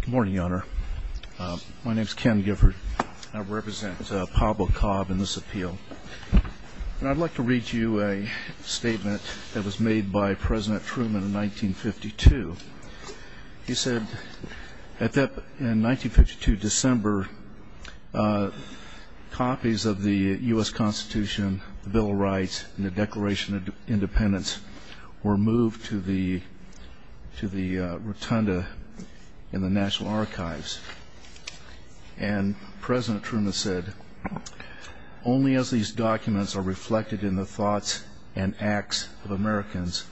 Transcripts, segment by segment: Good morning, Your Honor. My name is Ken Gifford. I represent Pablo Cobb in this appeal. And I'd like to read you a statement that was made by President Truman in 1952. He said, in 1952 December, copies of the U.S. Constitution, the Bill of Rights, and the Declaration of Independence were moved to the rotunda in the National Archives. And President Truman said, Only as these documents are reflected in the thoughts and acts of Americans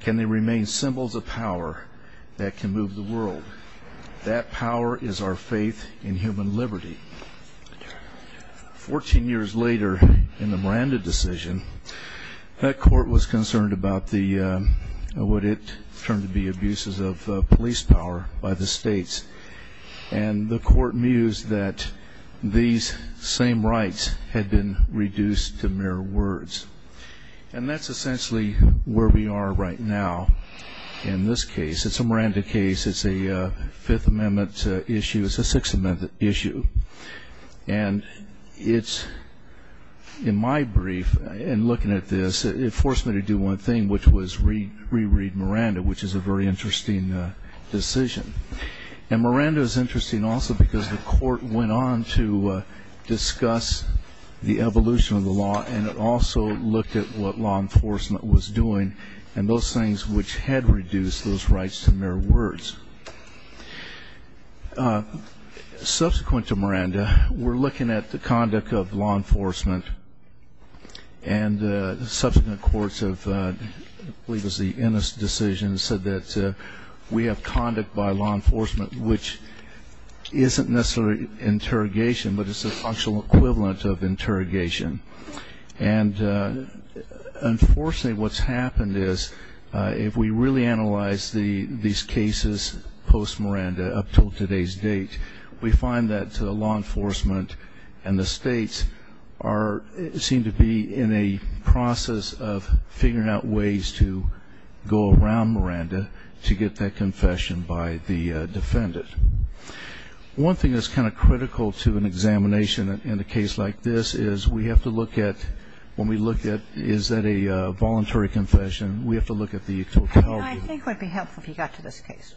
can they remain symbols of power that can move the world. That power is our faith in human liberty. Fourteen years later, in the Miranda decision, that court was concerned about what it turned to be abuses of police power by the states. And the court mused that these same rights had been reduced to mere words. And that's essentially where we are right now in this case. It's a Miranda case. It's a Fifth Amendment issue. It's a Sixth Amendment issue. And it's, in my brief, in looking at this, it forced me to do one thing, which was reread Miranda, which is a very interesting decision. And Miranda is interesting also because the court went on to discuss the evolution of the law, and it also looked at what law enforcement was doing, and those things which had reduced those rights to mere words. Subsequent to Miranda, we're looking at the conduct of law enforcement. And subsequent courts have, I believe it was the Ennis decision, said that we have conduct by law enforcement which isn't necessarily interrogation, but it's the functional equivalent of interrogation. And, unfortunately, what's happened is if we really analyze these cases post-Miranda up to today's date, we find that law enforcement and the states seem to be in a process of figuring out ways to go around Miranda to get that confession by the defendant. One thing that's kind of critical to an examination in a case like this is we have to look at when we look at is that a voluntary confession, we have to look at the totality. I think it would be helpful if you got to this case.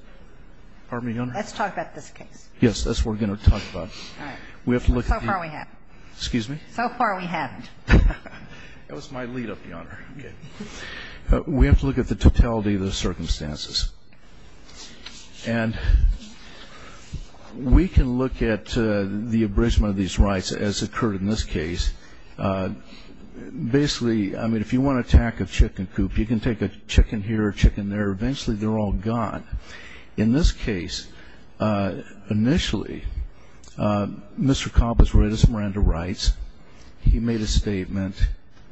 Pardon me, Your Honor? Let's talk about this case. Yes. That's what we're going to talk about. All right. So far we haven't. Excuse me? So far we haven't. That was my lead-up, Your Honor. Okay. We have to look at the totality of the circumstances. And we can look at the abridgment of these rights as occurred in this case. Basically, I mean, if you want to attack a chicken coop, you can take a chicken here, a chicken there. Eventually they're all gone. In this case, initially, Mr. Cobb was related to Miranda Rights. He made a statement,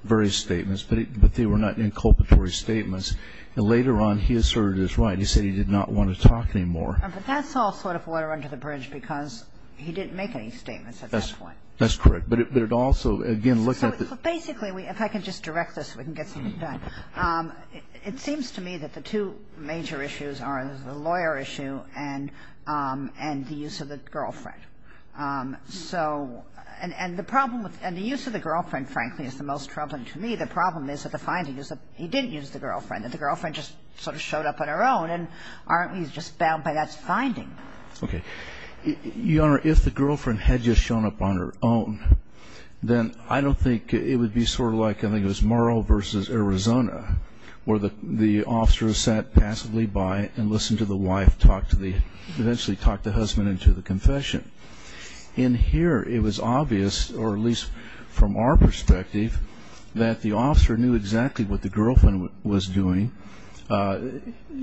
various statements, but they were not inculpatory statements. And later on he asserted his right. He said he did not want to talk anymore. But that's all sort of water under the bridge because he didn't make any statements at that point. That's correct. But it also, again, looking at the ---- So basically, if I can just direct this so we can get something done, it seems to me that the two major issues are the lawyer issue and the use of the girlfriend. And the use of the girlfriend, frankly, is the most troubling to me. I think the problem is that the finding is that he didn't use the girlfriend, that the girlfriend just sort of showed up on her own. And he's just bound by that finding. Okay. Your Honor, if the girlfriend had just shown up on her own, then I don't think it would be sort of like I think it was Murrow v. Arizona where the officer sat passively by and listened to the wife talk to the ---- eventually talk the husband into the confession. In here, it was obvious, or at least from our perspective, that the officer knew exactly what the girlfriend was doing.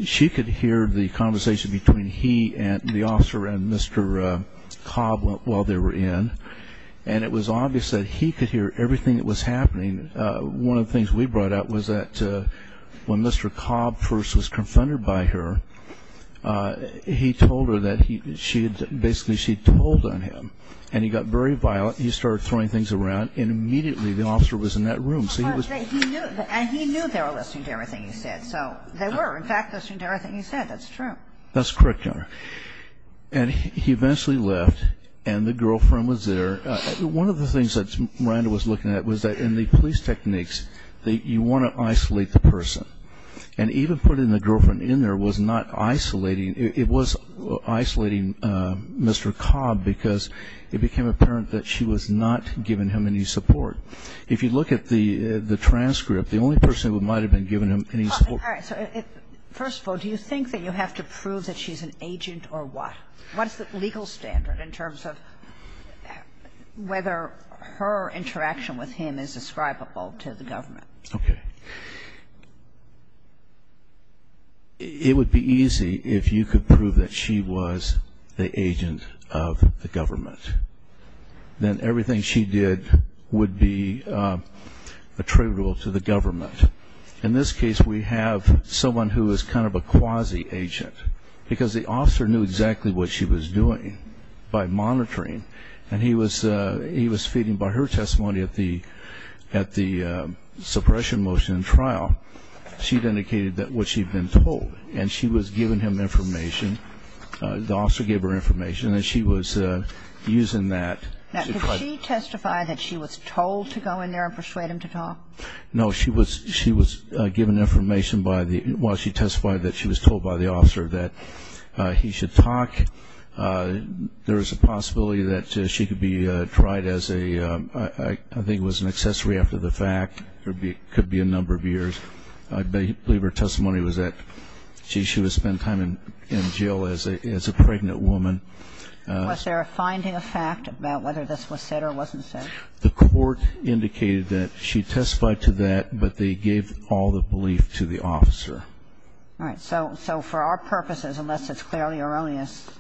She could hear the conversation between he and the officer and Mr. Cobb while they were in. And it was obvious that he could hear everything that was happening. One of the things we brought up was that when Mr. Cobb first was confronted by her, he told her that basically she told on him. And he got very violent. He started throwing things around, and immediately the officer was in that room. And he knew they were listening to everything he said. So they were, in fact, listening to everything he said. That's true. That's correct, Your Honor. And he eventually left, and the girlfriend was there. One of the things that Miranda was looking at was that in the police techniques, you want to isolate the person. And even putting the girlfriend in there was not isolating. It was isolating Mr. Cobb because it became apparent that she was not giving him any support. If you look at the transcript, the only person who might have been giving him any support First of all, do you think that you have to prove that she's an agent or what? What is the legal standard in terms of whether her interaction with him is ascribable to the government? Okay. It would be easy if you could prove that she was the agent of the government. Then everything she did would be attributable to the government. In this case, we have someone who is kind of a quasi-agent because the officer knew exactly what she was doing by monitoring. And he was feeding by her testimony at the suppression motion trial. She had indicated what she had been told, and she was giving him information. The officer gave her information, and she was using that. Now, did she testify that she was told to go in there and persuade him to talk? No. She was given information while she testified that she was told by the officer that he should talk. There is a possibility that she could be tried as a, I think it was an accessory after the fact. It could be a number of years. I believe her testimony was that she would spend time in jail as a pregnant woman. Was there a finding of fact about whether this was said or wasn't said? The court indicated that she testified to that, but they gave all the belief to the officer. All right. So for our purposes, unless it's clearly erroneous,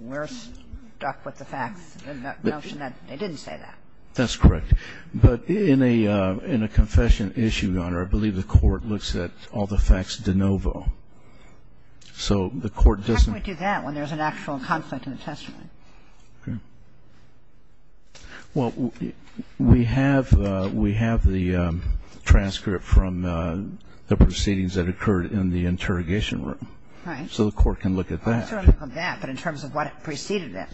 we're stuck with the fact, the notion that they didn't say that. That's correct. But in a confession issue, Your Honor, I believe the court looks at all the facts de novo. So the court doesn't do that when there's an actual conflict in the testimony. Okay. Well, we have the transcript from the proceedings that occurred in the interrogation room. Right. So the court can look at that. I'm sorry, not that, but in terms of what preceded it.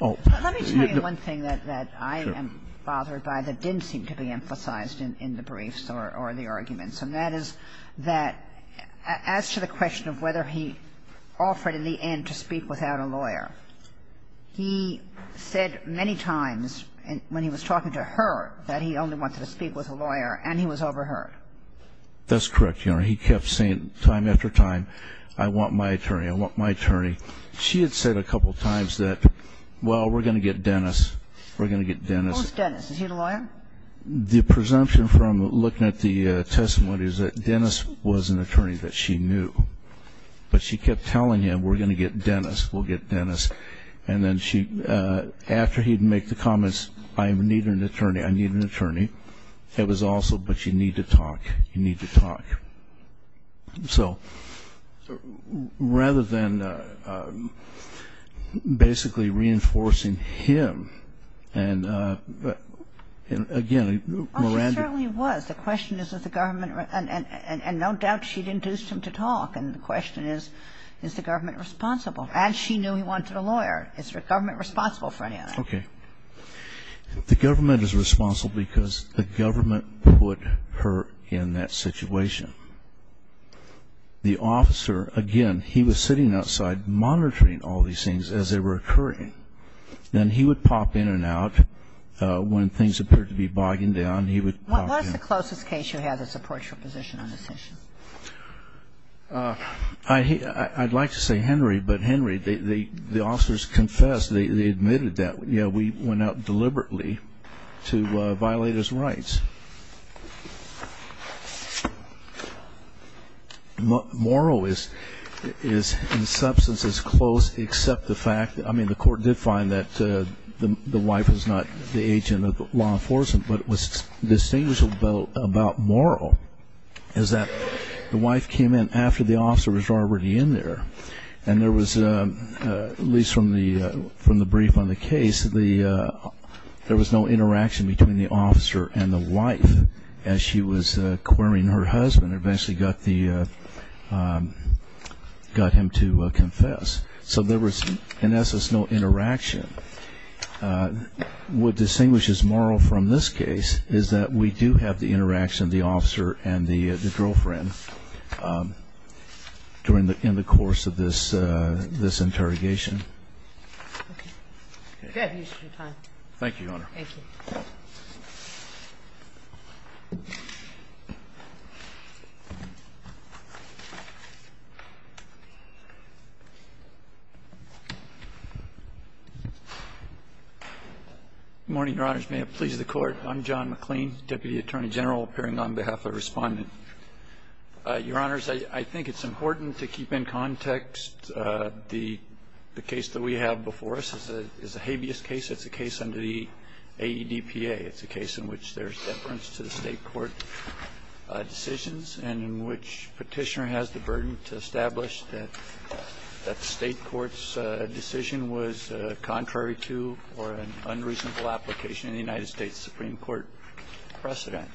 Let me tell you one thing that I am bothered by that didn't seem to be emphasized in the briefs or the arguments, and that is that as to the question of whether he offered in the end to speak without a lawyer, he said many times when he was talking to her that he only wanted to speak with a lawyer, and he was overheard. That's correct, Your Honor. He kept saying time after time, I want my attorney. I want my attorney. She had said a couple of times that, well, we're going to get Dennis. We're going to get Dennis. Who's Dennis? Is he the lawyer? The presumption from looking at the testimony is that Dennis was an attorney that she knew, but she kept telling him, we're going to get Dennis. We'll get Dennis. And then after he'd make the comments, I need an attorney, I need an attorney, it was also, but you need to talk. You need to talk. So rather than basically reinforcing him, and again, Miranda. Well, she certainly was. The question is, is the government, and no doubt she'd induced him to talk, and the question is, is the government responsible? And she knew he wanted a lawyer. Is the government responsible for any of that? Okay. The government is responsible because the government put her in that situation. The officer, again, he was sitting outside monitoring all these things as they were occurring. Then he would pop in and out when things appeared to be bogging down. What was the closest case you had that supports your position on this issue? I'd like to say Henry, but Henry, the officers confessed. They admitted that. Yeah, we went out deliberately to violate his rights. Moral is in substance as close except the fact that, I mean, the court did find that the wife was not the agent of law enforcement, but what's distinguishable about moral is that the wife came in after the officer was already in there, and there was, at least from the brief on the case, there was no interaction between the officer and the wife as she was querying her husband and eventually got him to confess. So there was in essence no interaction. What distinguishes moral from this case is that we do have the interaction of the officer and the girlfriend during the course of this interrogation. Thank you, Your Honor. Thank you. Good morning, Your Honors. May it please the Court. I'm John McLean, Deputy Attorney General, appearing on behalf of the Respondent. Your Honors, I think it's important to keep in context the case that we have before us. It's a habeas case. It's a case under the AEDPA. It's a case in which there's deference to the State court decisions and in which Petitioner has the burden to establish that the State court's decision was contrary to or an unreasonable application in the United States Supreme Court precedent.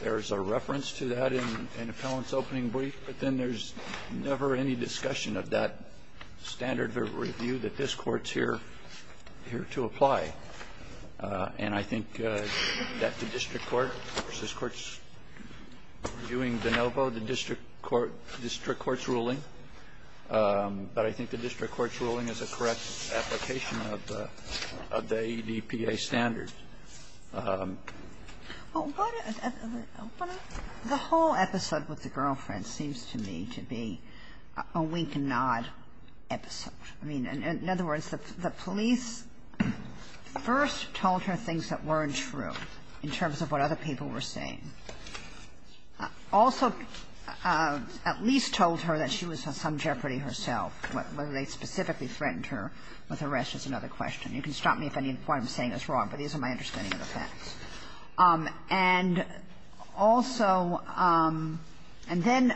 There's a reference to that in Appellant's opening brief, but then there's never any discussion of that standard of review that this Court's here to apply. And I think that the District Court, this Court's reviewing de novo the District Court's ruling, but I think the District Court's ruling is a correct application of the AEDPA standard. The whole episode with the girlfriend seems to me to be a wink-and-nod episode. I mean, in other words, the police first told her things that weren't true in terms of what other people were saying, also at least told her that she was in some jeopardy herself, whether they specifically threatened her with arrest is another question. You can stop me if any of what I'm saying is wrong, but these are my understanding of the facts. And also, and then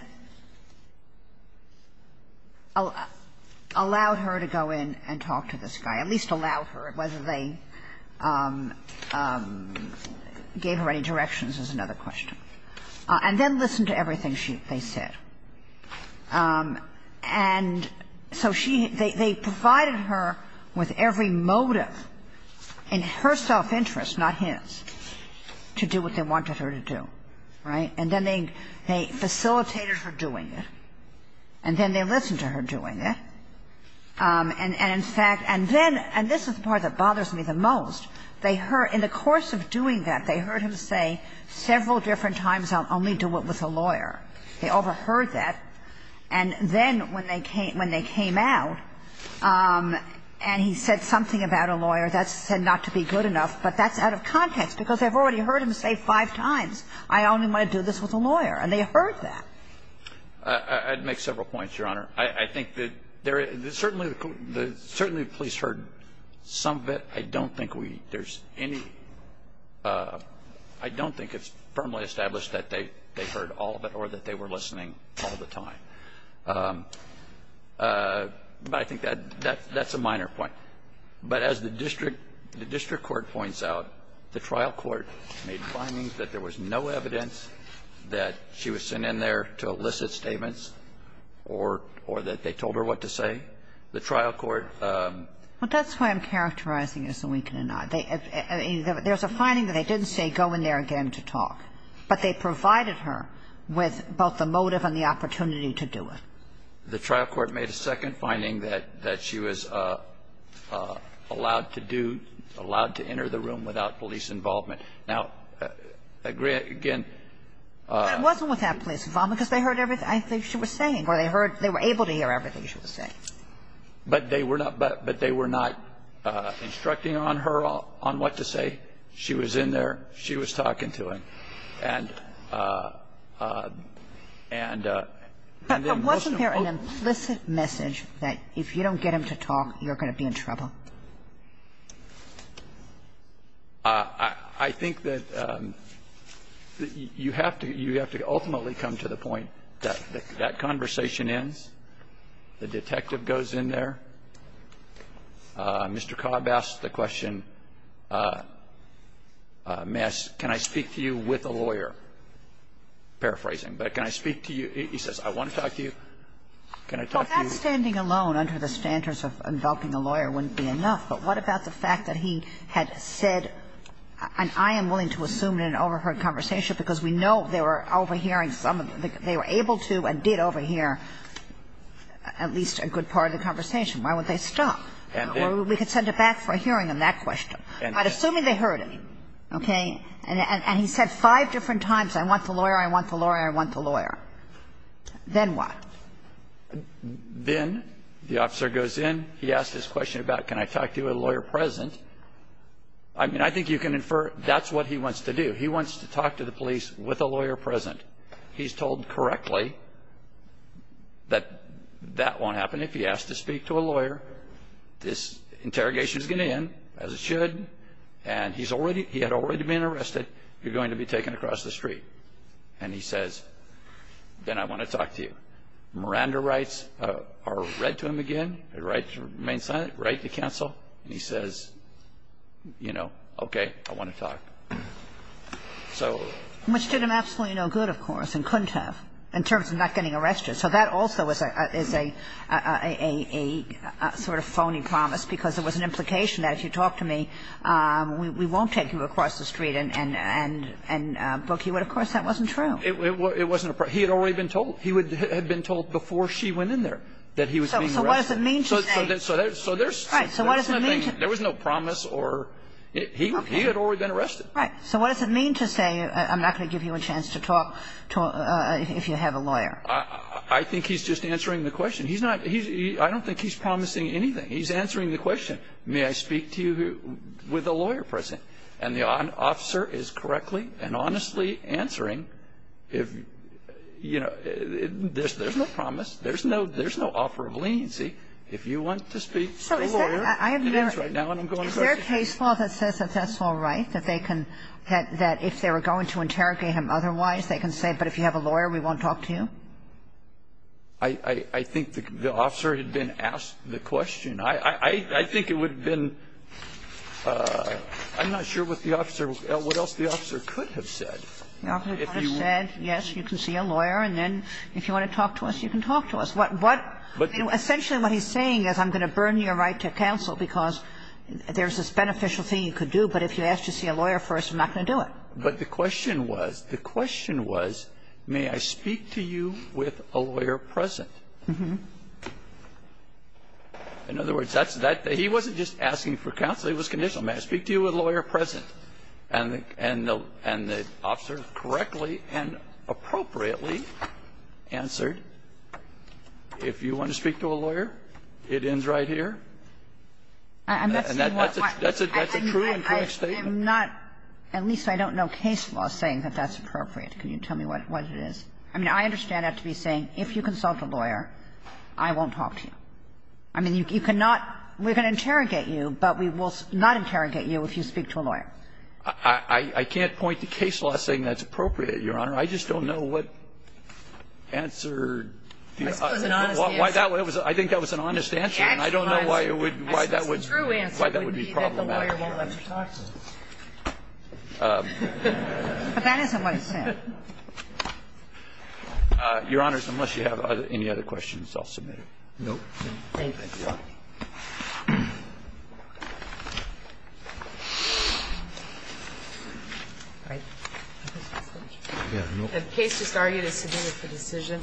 allowed her to go in and talk to this guy, at least allowed her, whether they gave her any directions is another question. And then listened to everything they said. And so she – they provided her with every motive in her self-interest, not his, to do what they wanted her to do, right? And then they facilitated her doing it, and then they listened to her doing it. And in fact – and then – and this is the part that bothers me the most. They heard – in the course of doing that, they heard him say several different times, I'll only do it with a lawyer. They overheard that, and then when they came out and he said something about a lawyer that's said not to be good enough, but that's out of context, because they've already heard him say five times, I only want to do this with a lawyer. And they heard that. I'd make several points, Your Honor. I think that there – certainly the police heard some of it. I don't think we – there's any – I don't think it's firmly established that they heard all of it or that they were listening all the time. But I think that's a minor point. But as the district court points out, the trial court made findings that there was no evidence that she was sent in there to elicit statements or that they told her what to say. The trial court – Well, that's why I'm characterizing it as a weakening nod. They – there's a finding that they didn't say go in there again to talk, but they provided her with both the motive and the opportunity to do it. The trial court made a second finding that she was allowed to do – allowed to enter the room without police involvement. Now, again – But it wasn't without police involvement because they heard everything she was saying or they heard – they were able to hear everything she was saying. But they were not – but they were not instructing on her on what to say. She was in there. She was talking to him. And – and then most of the court – But wasn't there an implicit message that if you don't get him to talk, you're going to be in trouble? I think that you have to – you have to ultimately come to the point that that conversation ends, the detective goes in there. Mr. Cobb asked the question, may I – can I speak to you with a lawyer? Paraphrasing. But can I speak to you – he says, I want to talk to you. Can I talk to you? Well, that's standing alone under the standards of indulging a lawyer wouldn't But what about the fact that he had said – and I am willing to assume in an overheard conversation, because we know they were overhearing some of the – they were able to and did overhear at least a good part of the conversation. Why would they stop? Or we could send it back for a hearing on that question. But assuming they heard him, okay, and he said five different times, I want the lawyer, I want the lawyer, I want the lawyer. Then what? Then the officer goes in, he asks this question about can I talk to you with a lawyer present. I mean, I think you can infer that's what he wants to do. He wants to talk to the police with a lawyer present. He's told correctly that that won't happen. If he asks to speak to a lawyer, this interrogation is going to end, as it should, and he's already – he had already been arrested, you're going to be taken across the street. And he says, then I want to talk to you. Miranda writes, or read to him again, writes to the main Senate, writes to counsel, and he says, you know, okay, I want to talk. So – Which did him absolutely no good, of course, and couldn't have, in terms of not getting arrested. So that also is a sort of phony promise, because it was an implication that if you talk to me, we won't take you across the street and book you. But, of course, that wasn't true. It wasn't a – he had already been told. He had been told before she went in there that he was being arrested. So what does it mean to say – So there's – Right. So what does it mean to – There was no promise or – he had already been arrested. Right. So what does it mean to say I'm not going to give you a chance to talk if you have a lawyer? I think he's just answering the question. He's not – I don't think he's promising anything. He's answering the question. May I speak to you with a lawyer present? And the officer is correctly and honestly answering if – you know, there's no promise. There's no offer of leniency. If you want to speak to a lawyer, you can answer it now, and I'm going to go to you. So is there a case law that says that that's all right, that they can – that if they were going to interrogate him otherwise, they can say, but if you have a lawyer, we won't talk to you? I think the officer had been asked the question. I think it would have been – I'm not sure what the officer – what else the officer could have said. The officer could have said, yes, you can see a lawyer, and then if you want to talk to us, you can talk to us. What – essentially what he's saying is I'm going to burn your right to counsel because there's this beneficial thing you could do, but if you ask to see a lawyer first, I'm not going to do it. But the question was, the question was, may I speak to you with a lawyer present? In other words, that's that – he wasn't just asking for counsel. He was conditional. May I speak to you with a lawyer present? And the officer correctly and appropriately answered, if you want to speak to a lawyer, it ends right here. And that's a true and correct statement. I'm not – at least I don't know case law saying that that's appropriate. Can you tell me what it is? I mean, I understand that to be saying if you consult a lawyer, I won't talk to you. I mean, you cannot – we're going to interrogate you, but we will not interrogate you if you speak to a lawyer. I can't point to case law saying that's appropriate, Your Honor. I just don't know what answered the other. This was an honest answer. I think that was an honest answer, and I don't know why it would – why that would be problematic. I suppose the true answer would be that the lawyer won't let you talk to him. But that isn't what he said. Your Honors, unless you have any other questions, I'll submit it. Thank you, Your Honor. The case just argued is submitted for decision.